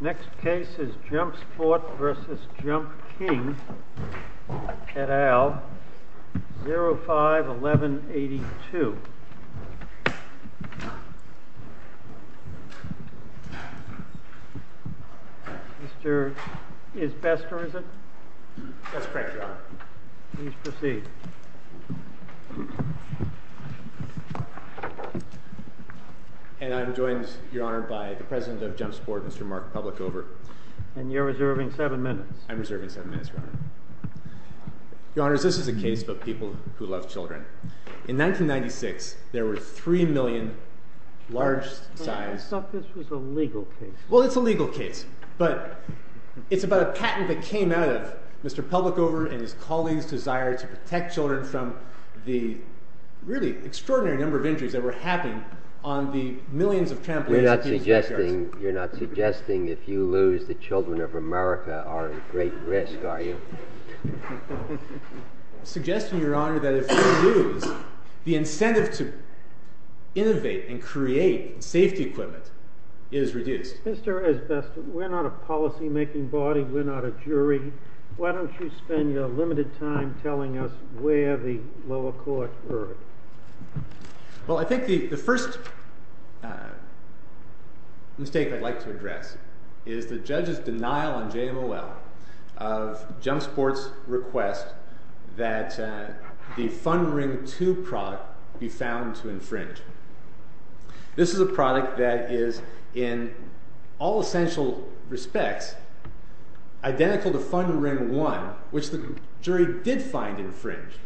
Next case is Jumpsport v. Jumpking, et al., 05-1182. I am joined by the President of Jumpsport, Mr. Mark Publicover. And you're reserving seven minutes. I'm reserving seven minutes, Your Honor. Your Honor, this is a case of people who love children. In 1996, there were three million large-sized— I thought this was a legal case. Well, it's a legal case, but it's about a patent that came out of Mr. Publicover and his colleagues' desire to protect children from the really extraordinary number of injuries that were happening on the millions of trampolines— You're not suggesting if you lose, the children of America are at great risk, are you? I'm suggesting, Your Honor, that if we lose, the incentive to innovate and create safety equipment is reduced. Mr. Esbesta, we're not a policymaking body. We're not a jury. Why don't you spend your limited time telling us where the lower court heard? Well, I think the first mistake I'd like to address is the judge's denial on JMOL of Jumpsport's request that the Fund Ring 2 product be found to infringe. This is a product that is, in all essential respects, identical to Fund Ring 1, which the jury did find infringed.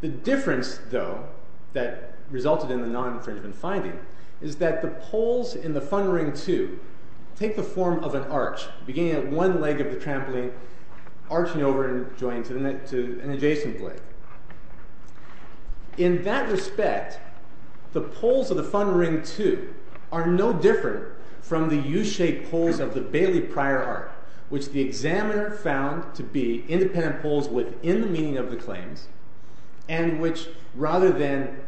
The difference, though, that resulted in the non-infringement finding is that the poles in the Fund Ring 2 take the form of an arch, beginning at one leg of the trampoline, arching over and joining to an adjacent leg. In that respect, the poles of the Fund Ring 2 are no different from the U-shaped poles of the Bailey Pryor Arch, which the examiner found to be independent poles within the meaning of the claims, and which, rather than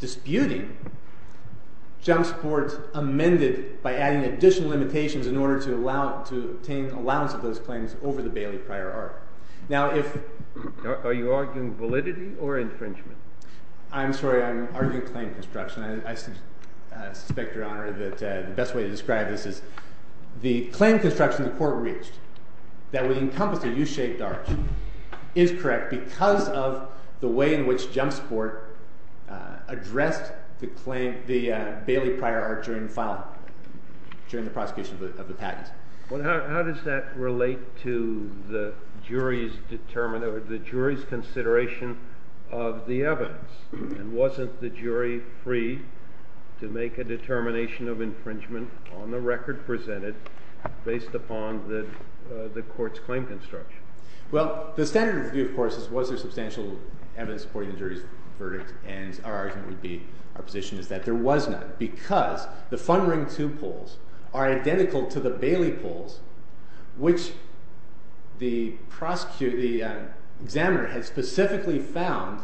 disputing, Jumpsport amended by adding additional limitations in order to obtain allowance of those claims over the Bailey Pryor Arch. Are you arguing validity or infringement? I'm sorry. I'm arguing claim construction. I suspect, Your Honor, that the best way to describe this is the claim construction the court reached that would encompass a U-shaped arch is correct because of the way in which Jumpsport addressed the Bailey Pryor Arch during the prosecution of the patent. Well, how does that relate to the jury's consideration of the evidence? And wasn't the jury free to make a determination of infringement on the record presented based upon the court's claim construction? Well, the standard view, of course, is was there substantial evidence supporting the jury's verdict, and our argument would be, our position is that there was not, because the Fund Ring 2 poles are identical to the Bailey poles, which the prosecutor, the examiner had specifically found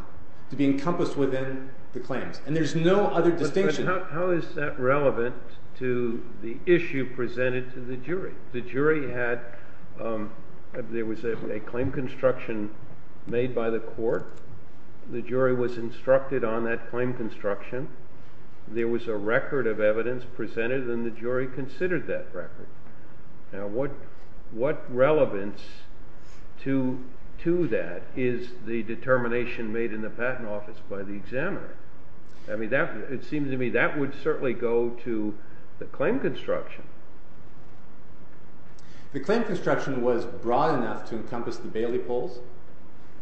to be encompassed within the claims, and there's no other distinction. How is that relevant to the issue presented to the jury? The jury had, there was a claim construction made by the court, the jury was instructed on that claim construction, there was a record of evidence presented, and the jury considered that record. Now, what relevance to that is the determination made in the patent office by the examiner? I mean, it seems to me that would certainly go to the claim construction. The claim construction was broad enough to encompass the Bailey poles,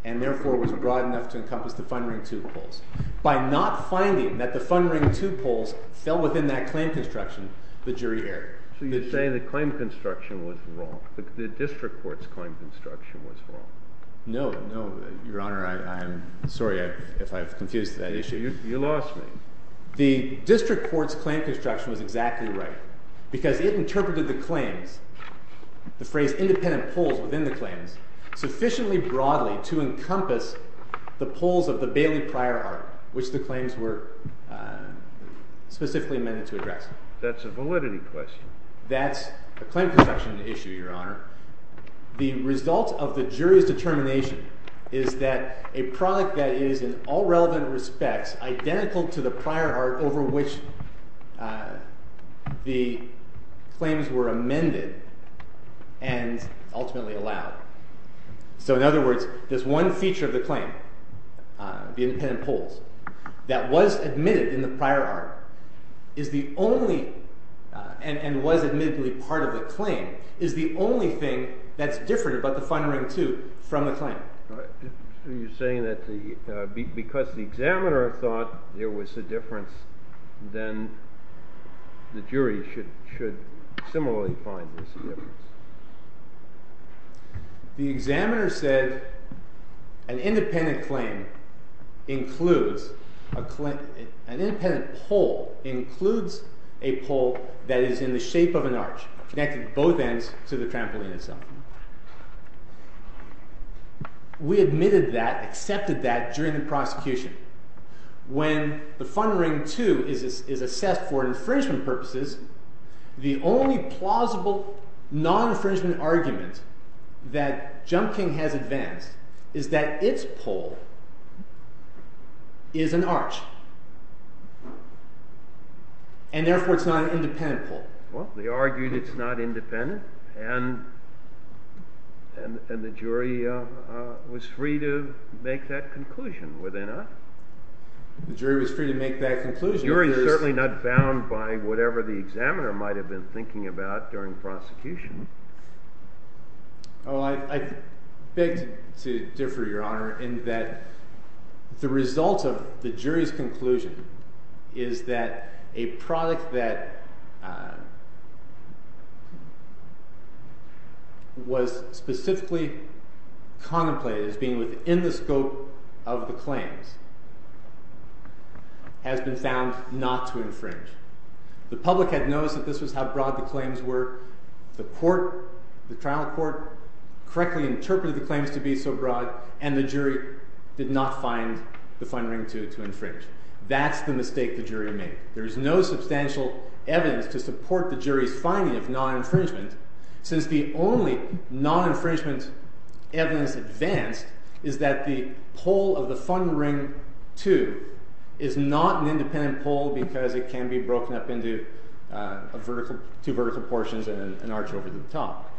and therefore was broad enough to encompass the Fund Ring 2 poles. By not finding that the Fund Ring 2 poles fell within that claim construction, the jury erred. So you're saying the claim construction was wrong, the district court's claim construction was wrong. No, no, your honor, I'm sorry if I've confused that issue. You lost me. The district court's claim construction was exactly right, because it interpreted the claims, the phrase independent poles within the claims, sufficiently broadly to encompass the poles of the Bailey prior article, which the claims were specifically meant to address. That's a validity question. That's a claim construction issue, your honor. The result of the jury's determination is that a product that is, in all relevant respects, identical to the prior art over which the claims were amended and ultimately allowed. So in other words, this one feature of the claim, the independent poles, that was admitted in the prior article, and was admittedly part of the claim, is the only thing that's different about the Fund Ring 2 from the claim. So you're saying that because the examiner thought there was a difference, then the jury should similarly find there's a difference. The examiner said an independent pole includes a pole that is in the shape of an arch, connecting both ends to the trampoline itself. We admitted that, accepted that, during the prosecution. When the Fund Ring 2 is assessed for infringement purposes, the only plausible non-infringement argument that Jump King has advanced is that its pole is an arch, and therefore it's not an independent pole. Well, they argued it's not independent, and the jury was free to make that conclusion. Were they not? The jury was free to make that conclusion. The jury is certainly not bound by whatever the examiner might have been thinking about during prosecution. Well, I beg to differ, Your Honor, in that the result of the jury's conclusion is that a product that was specifically contemplated as being within the scope of the claims has been found not to infringe. The public had noticed that this was how broad the claims were, the trial court correctly interpreted the claims to be so broad, and the jury did not find the Fund Ring 2 to infringe. That's the mistake the jury made. There is no substantial evidence to support the jury's finding of non-infringement, since the only non-infringement evidence advanced is that the pole of the Fund Ring 2 is not an independent pole because it can be broken up into two vertical portions and an arch over the top.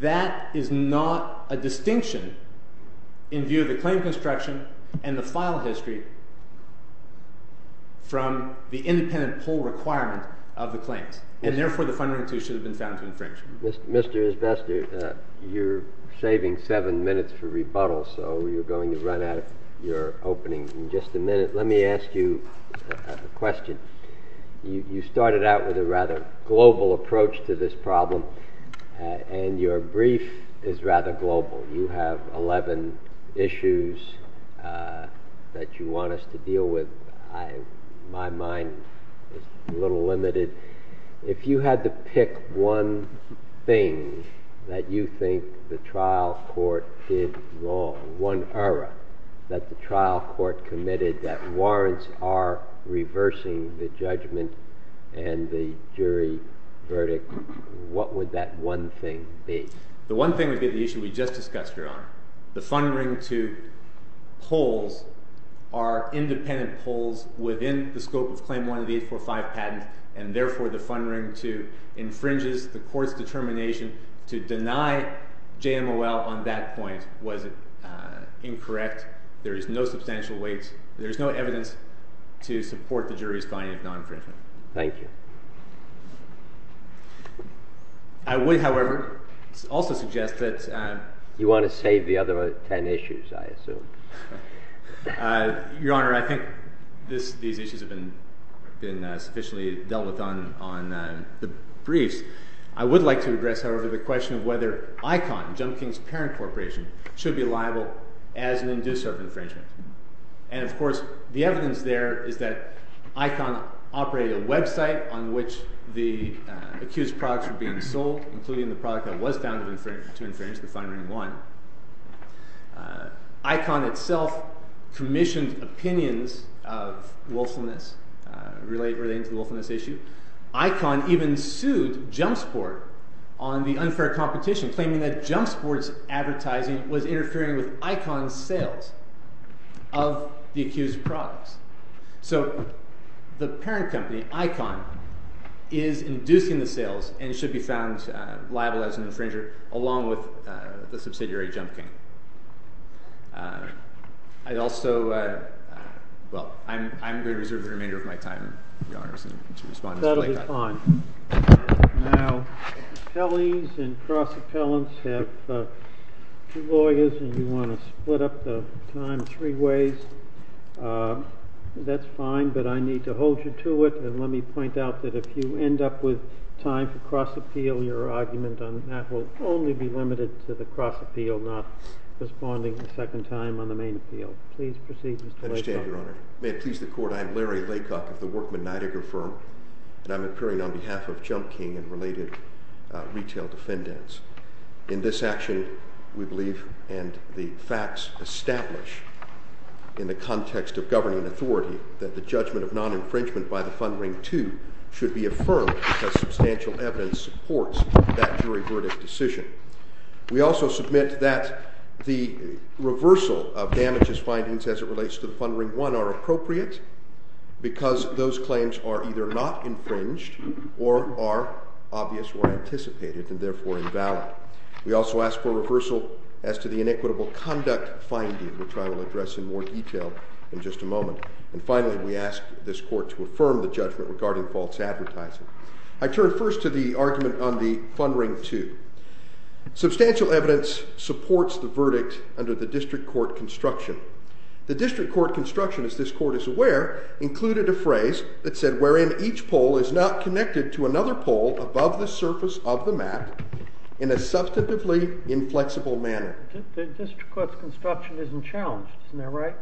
That is not a distinction in view of the claim construction and the file history from the independent pole requirement of the claims, and therefore the Fund Ring 2 should have been found to infringe. Mr. Esbester, you're saving seven minutes for rebuttal, so you're going to run out of your opening in just a minute. Let me ask you a question. You started out with a rather global approach to this problem, and your brief is rather global. You have 11 issues that you want us to deal with. My mind is a little limited. If you had to pick one thing that you think the trial court did wrong, one error that the trial court committed that warrants are reversing the judgment and the jury verdict, what would that one thing be? The one thing would be the issue we just discussed, Your Honor. The Fund Ring 2 poles are independent poles within the scope of Claim 1 of the 845 patent, and therefore the Fund Ring 2 infringes the court's determination to deny JMOL on that point. Was it incorrect? There is no substantial weight. There is no evidence to support the jury's finding of non-infringement. Thank you. I would, however, also suggest that— You want to save the other 10 issues, I assume. Your Honor, I think these issues have been sufficiently dealt with on the briefs. I would like to address, however, the question of whether ICON, Jump King's parent corporation, should be liable as an inducer of infringement. And, of course, the evidence there is that ICON operated a website on which the accused products were being sold, including the product that was found to infringe the Fund Ring 1. ICON itself commissioned opinions of willfulness relating to the willfulness issue. ICON even sued Jump Sport on the unfair competition, claiming that Jump Sport's advertising was interfering with ICON's sales of the accused products. So the parent company, ICON, is inducing the sales and should be found liable as an infringer, along with the subsidiary, Jump King. I also—well, I'm going to reserve the remainder of my time, Your Honor, to respond to Mr. Blakott. That'll be fine. Now, appellees and cross-appellants have two lawyers, and you want to split up the time three ways. That's fine, but I need to hold you to it. And let me point out that if you end up with time for cross-appeal, your argument on that will only be limited to the cross-appeal, not responding a second time on the main appeal. Please proceed, Mr. Blakott. I understand, Your Honor. May it please the Court, I am Larry Blakott of the Workman Nidegger Firm, and I'm appearing on behalf of Jump King and related retail defendants. In this action, we believe and the facts establish in the context of governing authority that the judgment of non-infringement by the Fund Ring 2 should be affirmed because substantial evidence supports that jury verdict decision. We also submit that the reversal of damages findings as it relates to the Fund Ring 1 are appropriate because those claims are either not infringed or are obvious or anticipated and therefore invalid. We also ask for reversal as to the inequitable conduct finding, which I will address in more detail in just a moment. And finally, we ask this Court to affirm the judgment regarding false advertising. I turn first to the argument on the Fund Ring 2. Substantial evidence supports the verdict under the district court construction. The district court construction, as this Court is aware, included a phrase that said, wherein each pole is not connected to another pole above the surface of the map in a substantively inflexible manner. The district court's construction isn't challenged, isn't that right?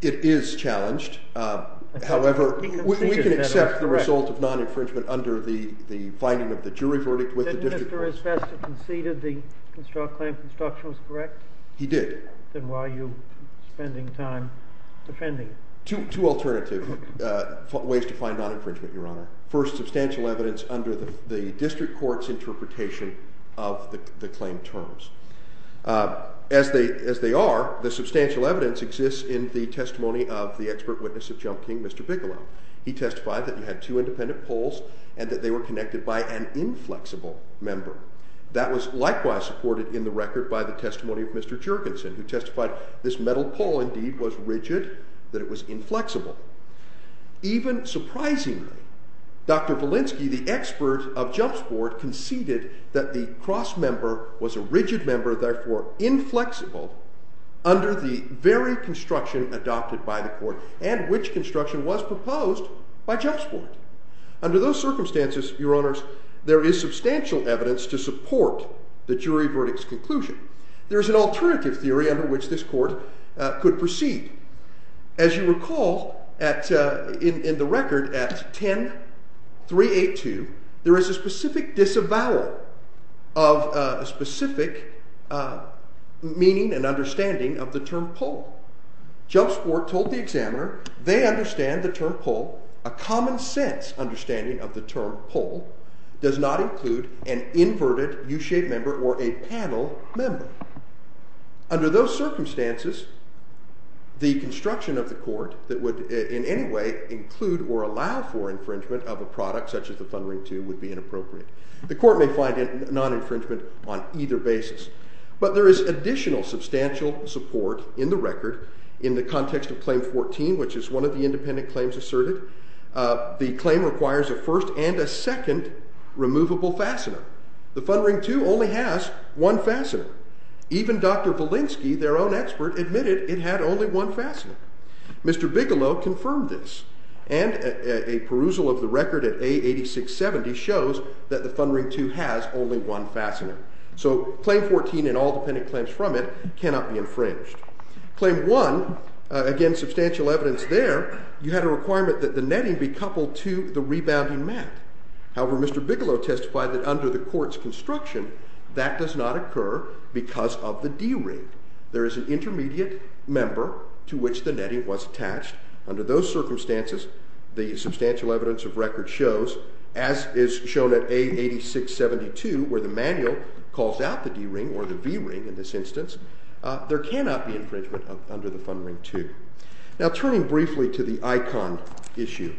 It is challenged. However, we can accept the result of non-infringement under the finding of the jury verdict with the district court. Didn't Mr. Esbesta conceded the claim construction was correct? He did. Then why are you spending time defending it? Two alternative ways to find non-infringement, Your Honor. First, substantial evidence under the district court's interpretation of the claim terms. As they are, the substantial evidence exists in the testimony of the expert witness of Jump King, Mr. Bigelow. He testified that he had two independent poles and that they were connected by an inflexible member. That was likewise supported in the record by the testimony of Mr. Juergensen, who testified this metal pole indeed was rigid, that it was inflexible. Even surprisingly, Dr. Walensky, the expert of jump sport, conceded that the cross member was a rigid member, therefore inflexible, under the very construction adopted by the court and which construction was proposed by jump sport. Under those circumstances, Your Honors, there is substantial evidence to support the jury verdict's conclusion. There is an alternative theory under which this court could proceed. As you recall, in the record at 10382, there is a specific disavowal of a specific meaning and understanding of the term pole. Jump sport told the examiner they understand the term pole. A common sense understanding of the term pole does not include an inverted U-shaped member or a panel member. Under those circumstances, the construction of the court that would in any way include or allow for infringement of a product such as the fund ring 2 would be inappropriate. The court may find non-infringement on either basis. But there is additional substantial support in the record in the context of claim 14, which is one of the independent claims asserted. The claim requires a first and a second removable fastener. The fund ring 2 only has one fastener. Even Dr. Velinsky, their own expert, admitted it had only one fastener. Mr. Bigelow confirmed this. And a perusal of the record at A8670 shows that the fund ring 2 has only one fastener. So claim 14 and all dependent claims from it cannot be infringed. Claim 1, again substantial evidence there, you had a requirement that the netting be coupled to the rebounding mat. However, Mr. Bigelow testified that under the court's construction, that does not occur because of the D ring. There is an intermediate member to which the netting was attached. Under those circumstances, the substantial evidence of record shows, as is shown at A8672 where the manual calls out the D ring or the V ring in this instance, there cannot be infringement under the fund ring 2. Now turning briefly to the ICON issue,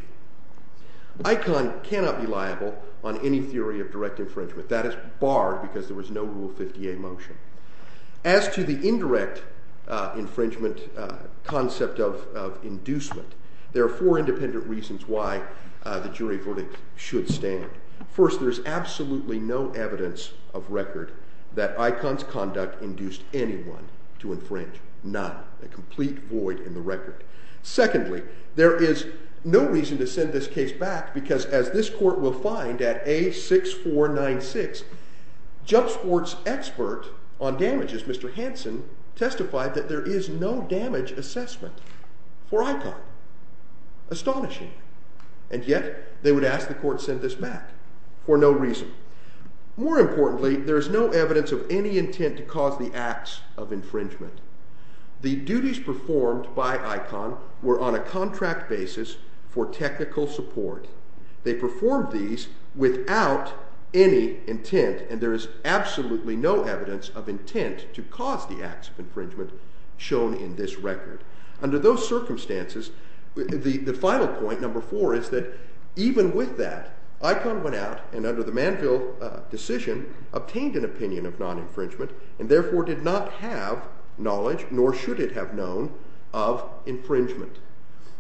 ICON cannot be liable on any theory of direct infringement. That is barred because there was no Rule 50A motion. As to the indirect infringement concept of inducement, there are four independent reasons why the jury verdict should stand. First, there is absolutely no evidence of record that ICON's conduct induced anyone to infringe. None. A complete void in the record. Secondly, there is no reason to send this case back because as this court will find at A6496, Jump Sport's expert on damages, Mr. Hanson, testified that there is no damage assessment for ICON. Astonishing. And yet, they would ask the court to send this back for no reason. More importantly, there is no evidence of any intent to cause the acts of infringement. The duties performed by ICON were on a contract basis for technical support. They performed these without any intent, and there is absolutely no evidence of intent to cause the acts of infringement shown in this record. Under those circumstances, the final point, number four, is that even with that, ICON went out and under the Manville decision, obtained an opinion of non-infringement, and therefore did not have knowledge, nor should it have known, of infringement.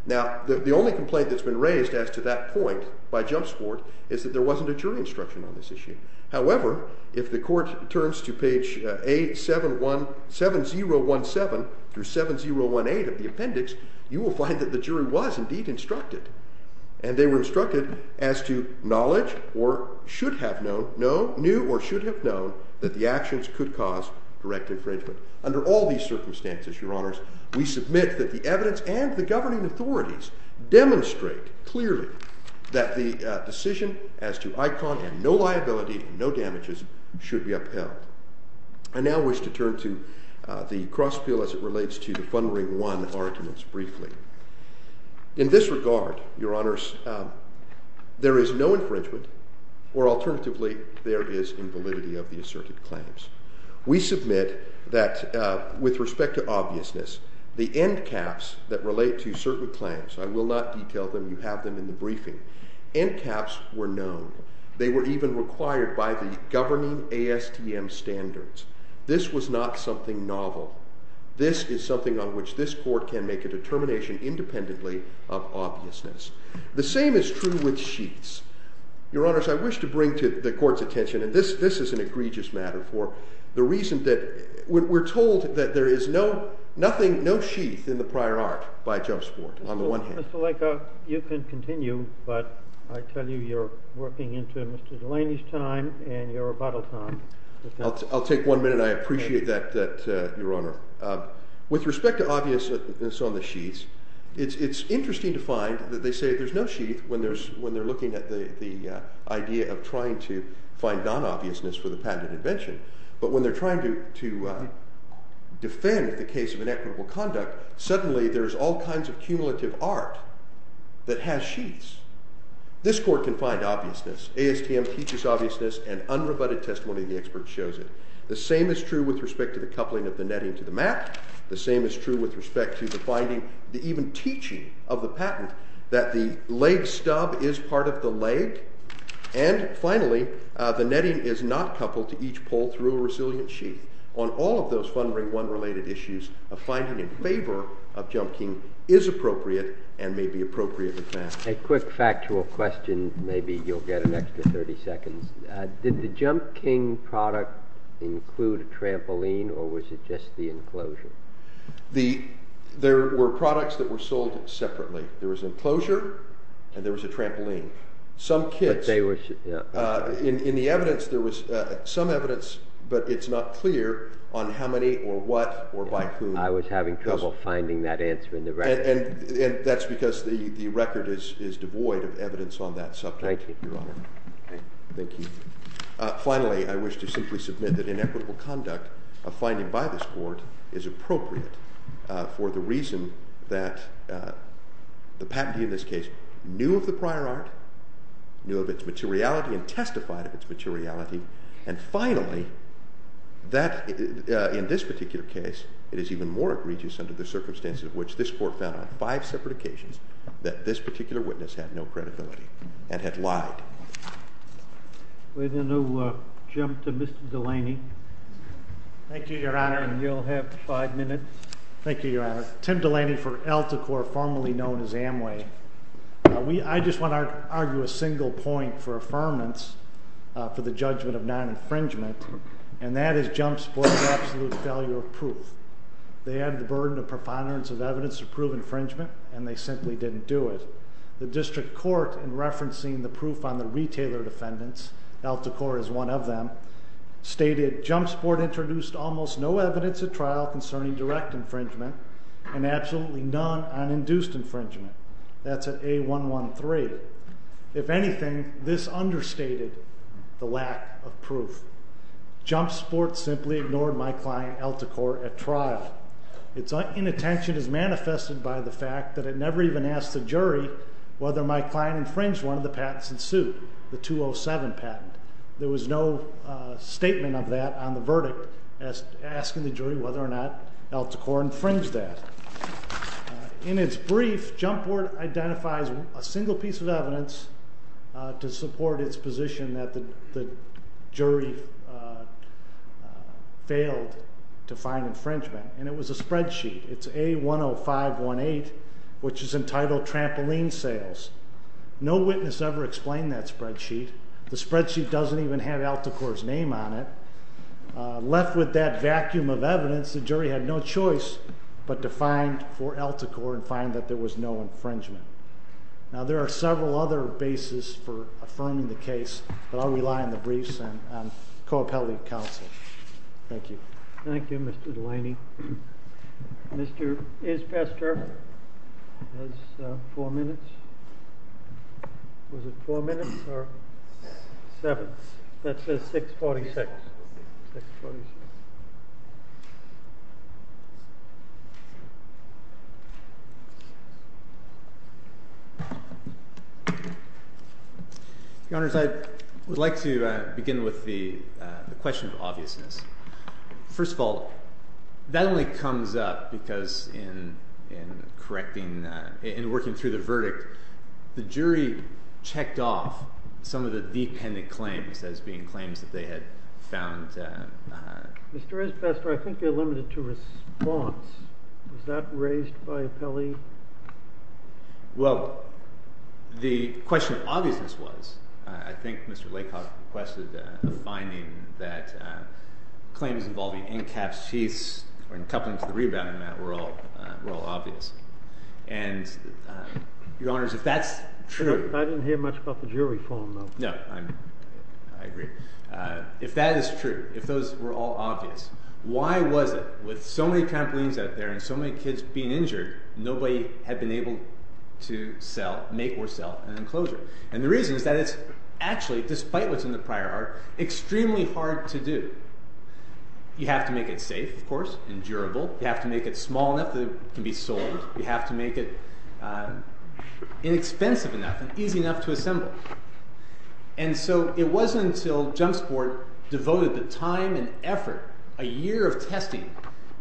Now, the only complaint that's been raised as to that point by Jump Sport is that there wasn't a jury instruction on this issue. However, if the court turns to page A7017 through 7018 of the appendix, you will find that the jury was indeed instructed, and they were instructed as to knowledge or should have known, knew or should have known, that the actions could cause direct infringement. Under all these circumstances, Your Honors, we submit that the evidence and the governing authorities demonstrate clearly that the decision as to ICON and no liability, no damages, should be upheld. I now wish to turn to the cross appeal as it relates to the Fund Ring 1 arguments briefly. In this regard, Your Honors, there is no infringement, or alternatively, there is invalidity of the asserted claims. We submit that with respect to obviousness, the end caps that relate to certain claims, I will not detail them, you have them in the briefing, end caps were known. They were even required by the governing ASTM standards. This was not something novel. This is something on which this court can make a determination independently of obviousness. The same is true with sheets. Your Honors, I wish to bring to the court's attention, and this is an egregious matter for the reason that we're told that there is no sheath in the prior art by Joe Sport, on the one hand. Mr. Laker, you can continue, but I tell you you're working into Mr. Delaney's time and your rebuttal time. I'll take one minute. I appreciate that, Your Honor. With respect to obviousness on the sheets, it's interesting to find that they say there's no sheath when they're looking at the idea of trying to find non-obviousness for the patented invention. But when they're trying to defend the case of inequitable conduct, suddenly there's all kinds of cumulative art that has sheaths. This court can find obviousness. ASTM teaches obviousness, and unrebutted testimony of the expert shows it. The same is true with respect to the coupling of the netting to the mat. The same is true with respect to the finding, even teaching, of the patent that the leg stub is part of the leg. And finally, the netting is not coupled to each pole through a resilient sheath. On all of those Fund Ring I-related issues, a finding in favor of Jump King is appropriate and may be appropriate in fact. A quick factual question. Maybe you'll get an extra 30 seconds. Did the Jump King product include a trampoline, or was it just the enclosure? There were products that were sold separately. There was an enclosure, and there was a trampoline. Some kits. In the evidence, there was some evidence, but it's not clear on how many or what or by whom. I was having trouble finding that answer in the record. And that's because the record is devoid of evidence on that subject, Your Honor. Thank you. Finally, I wish to simply submit that inequitable conduct, a finding by this Court, is appropriate for the reason that the patentee in this case knew of the prior art, knew of its materiality, and testified of its materiality. And finally, in this particular case, it is even more egregious under the circumstances of which this Court found on five separate occasions that this particular witness had no credibility and had lied. We're going to jump to Mr. Delaney. Thank you, Your Honor. And you'll have five minutes. Thank you, Your Honor. Tim Delaney for Alticore, formerly known as Amway. I just want to argue a single point for affirmance for the judgment of non-infringement, and that is Jumpsport's absolute failure of proof. They had the burden of preponderance of evidence to prove infringement, and they simply didn't do it. The district court, in referencing the proof on the retailer defendants, Alticore is one of them, stated, If anything, this understated the lack of proof. Jumpsport simply ignored my client, Alticore, at trial. Its inattention is manifested by the fact that it never even asked the jury whether my client infringed one of the patents in suit, the 207 patent. There was no statement of that on the verdict, asking the jury whether or not Alticore infringed that. In its brief, Jumpsport identifies a single piece of evidence to support its position that the jury failed to find infringement. And it was a spreadsheet. It's A10518, which is entitled Trampoline Sales. No witness ever explained that spreadsheet. The spreadsheet doesn't even have Alticore's name on it. Left with that vacuum of evidence, the jury had no choice but to find for Alticore and find that there was no infringement. Now, there are several other bases for affirming the case, but I'll rely on the briefs and Co-Appellate Counsel. Thank you. Thank you, Mr. Delaney. Mr. Isbester has four minutes. Was it four minutes or seven? That says 6.46. Your Honors, I would like to begin with the question of obviousness. First of all, that only comes up because in working through the verdict, the jury checked off some of the dependent claims as being claims that they had found. Mr. Isbester, I think you're limited to response. Was that raised by appellee? Well, the question of obviousness was. I think Mr. Lakoff requested a finding that claims involving in-caps, sheaths, or in coupling to the rebound amount were all obvious. And, Your Honors, if that's true. I didn't hear much about the jury form, though. No, I agree. If that is true, if those were all obvious, why was it with so many trampolines out there and so many kids being injured, nobody had been able to make or sell an enclosure? And the reason is that it's actually, despite what's in the prior art, extremely hard to do. You have to make it safe, of course, and durable. You have to make it small enough that it can be sold. You have to make it inexpensive enough and easy enough to assemble. And so it wasn't until Jump Sport devoted the time and effort, a year of testing,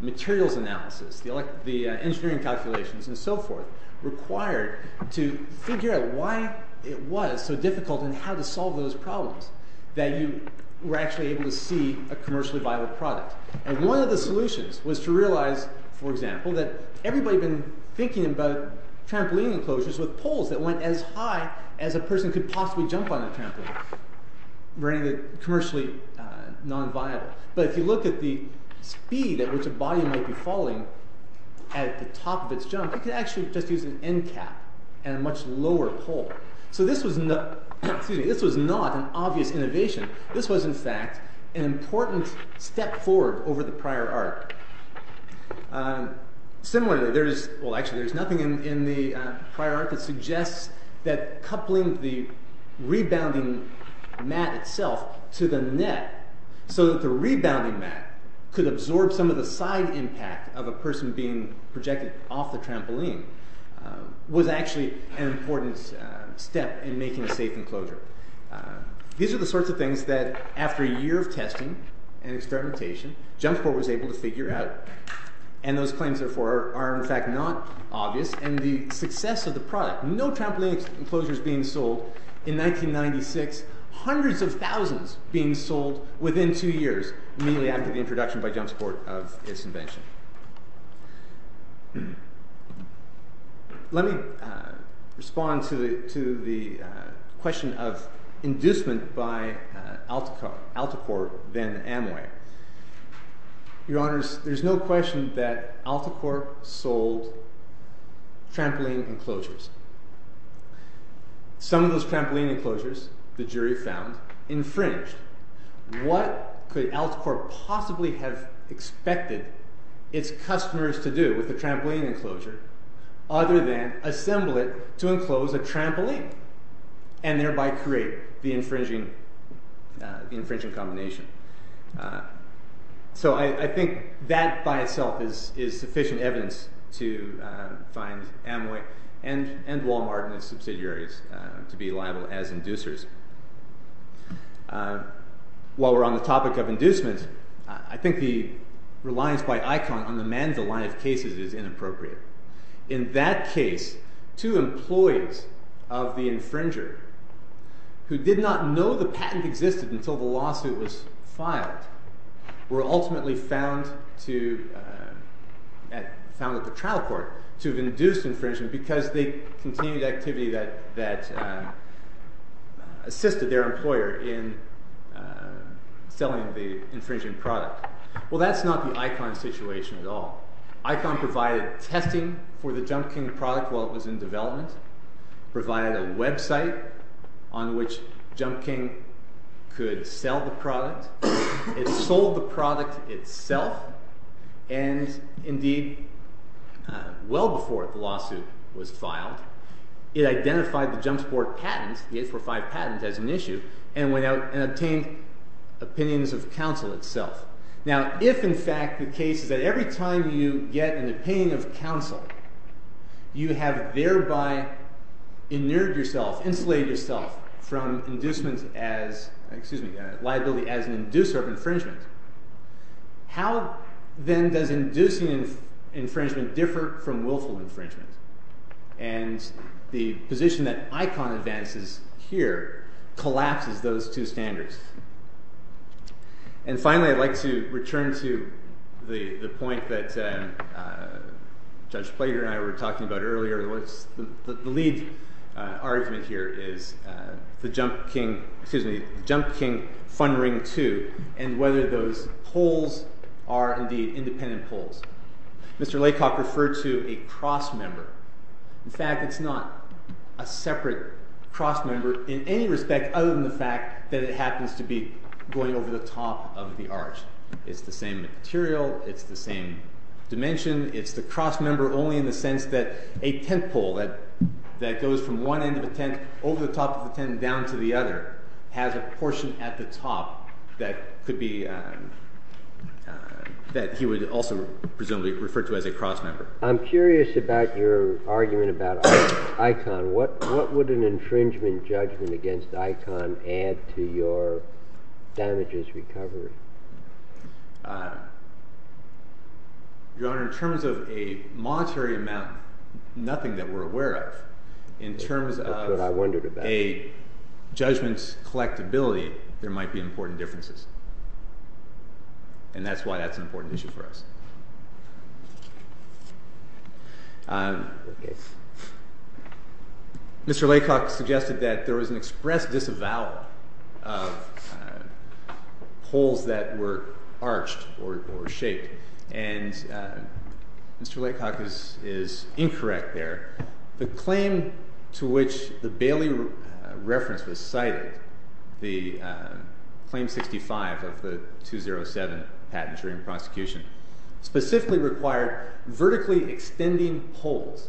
materials analysis, the engineering calculations, and so forth, required to figure out why it was so difficult and how to solve those problems that you were actually able to see a commercially viable product. And one of the solutions was to realize, for example, that everybody had been thinking about trampoline enclosures with poles that went as high as a person could possibly jump on a trampoline, making it commercially non-viable. But if you look at the speed at which a body might be falling at the top of its jump, it could actually just use an end cap and a much lower pole. So this was not an obvious innovation. This was, in fact, an important step forward over the prior art. Similarly, there is, well actually there is nothing in the prior art that suggests that coupling the rebounding mat itself to the net so that the rebounding mat could absorb some of the side impact of a person being projected off the trampoline was actually an important step in making a safe enclosure. These are the sorts of things that, after a year of testing and experimentation, JumpSport was able to figure out. And those claims, therefore, are, in fact, not obvious. And the success of the product, no trampoline enclosures being sold in 1996, hundreds of thousands being sold within two years, immediately after the introduction by JumpSport of its invention. Let me respond to the question of inducement by Alticorp, then Amway. Your Honours, there is no question that Alticorp sold trampoline enclosures. Some of those trampoline enclosures, the jury found, infringed. What could Alticorp possibly have expected its customers to do with a trampoline enclosure other than assemble it to enclose a trampoline and thereby create the infringing combination? So I think that, by itself, is sufficient evidence to find Amway and Walmart and its subsidiaries to be liable as inducers. While we're on the topic of inducement, I think the reliance by ICON on the MANDA line of cases is inappropriate. In that case, two employees of the infringer, who did not know the patent existed until the lawsuit was filed, were ultimately found at the trial court to have induced infringement because they continued activity that assisted their employer in selling the infringing product. Well, that's not the ICON situation at all. ICON provided testing for the JumpKing product while it was in development, provided a website on which JumpKing could sell the product. It sold the product itself, and indeed, well before the lawsuit was filed, it identified the JumpSupport patent, the 845 patent, as an issue and went out and obtained opinions of counsel itself. Now, if in fact the case is that every time you get an opinion of counsel, you have thereby inerted yourself, insulated yourself from liability as an inducer of infringement, how then does inducing infringement differ from willful infringement? And the position that ICON advances here collapses those two standards. And finally, I'd like to return to the point that Judge Plater and I were talking about earlier. The lead argument here is the JumpKing Fund Ring 2 and whether those poles are indeed independent poles. Mr. Laycock referred to a crossmember. In fact, it's not a separate crossmember in any respect other than the fact that it happens to be going over the top of the arch. It's the same material. It's the same dimension. It's the crossmember only in the sense that a tent pole that goes from one end of a tent over the top of a tent down to the other has a portion at the top that he would also presumably refer to as a crossmember. I'm curious about your argument about ICON. What would an infringement judgment against ICON add to your damages recovery? Your Honor, in terms of a monetary amount, nothing that we're aware of. In terms of a judgment's collectibility, there might be important differences. And that's why that's an important issue for us. Mr. Laycock suggested that there was an express disavowal of poles that were arched or shaped. And Mr. Laycock is incorrect there. The claim to which the Bailey reference was cited, the claim 65 of the 207 patent during prosecution, specifically required vertically extending poles,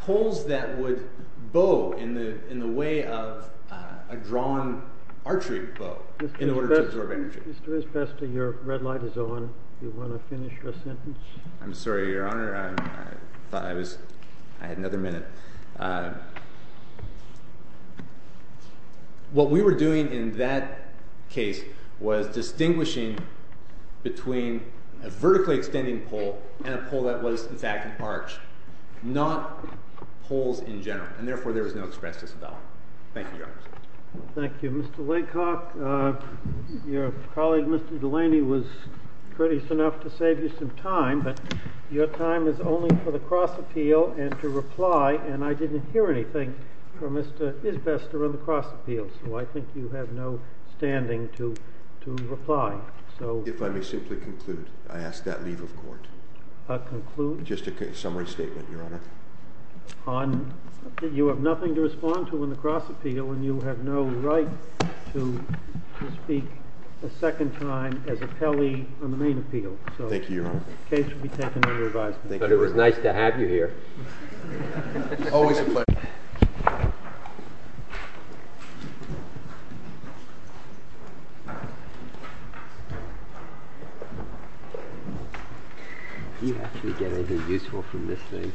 poles that would bow in the way of a drawn archery bow in order to absorb energy. Mr. Izbesta, your red light is on. Do you want to finish your sentence? I'm sorry, Your Honor. I had another minute. What we were doing in that case was distinguishing between a vertically extending pole and a pole that was, in fact, arched, not poles in general. And therefore, there was no express disavowal. Thank you, Your Honor. Thank you, Mr. Laycock. Your colleague, Mr. Delaney, was courteous enough to save you some time. But your time is only for the cross appeal and to reply. And I didn't hear anything from Mr. Izbesta on the cross appeal. So I think you have no standing to reply. If I may simply conclude, I ask that leave of court. Conclude? Just a summary statement, Your Honor. You have nothing to respond to in the cross appeal. And you have no right to speak a second time as appellee on the main appeal. Thank you, Your Honor. Case will be taken under advisement. It was nice to have you here. Always a pleasure. Do you actually get anything useful from this thing?